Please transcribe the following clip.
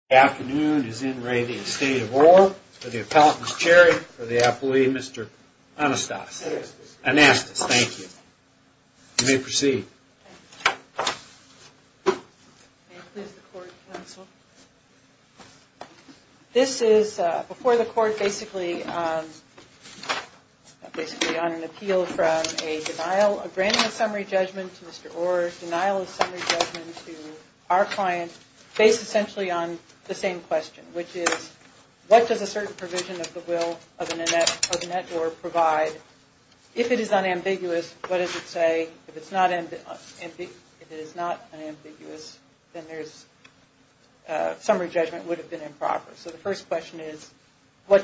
Afternoon is in re the Estate of Orr for the appellant's chair for the appellee, Mr. Anastas. Anastas, thank you. You may proceed. This is before the court basically on an appeal from a denial, a granting of summary judgment to Mr. Orr, denial of summary judgment to our client based essentially on the same question, which is, what does a certain provision of the will of Annette Orr provide? If it is unambiguous, what does it say? If it is not unambiguous, then there's a summary judgment would have been improper. So the first question is, what does it say?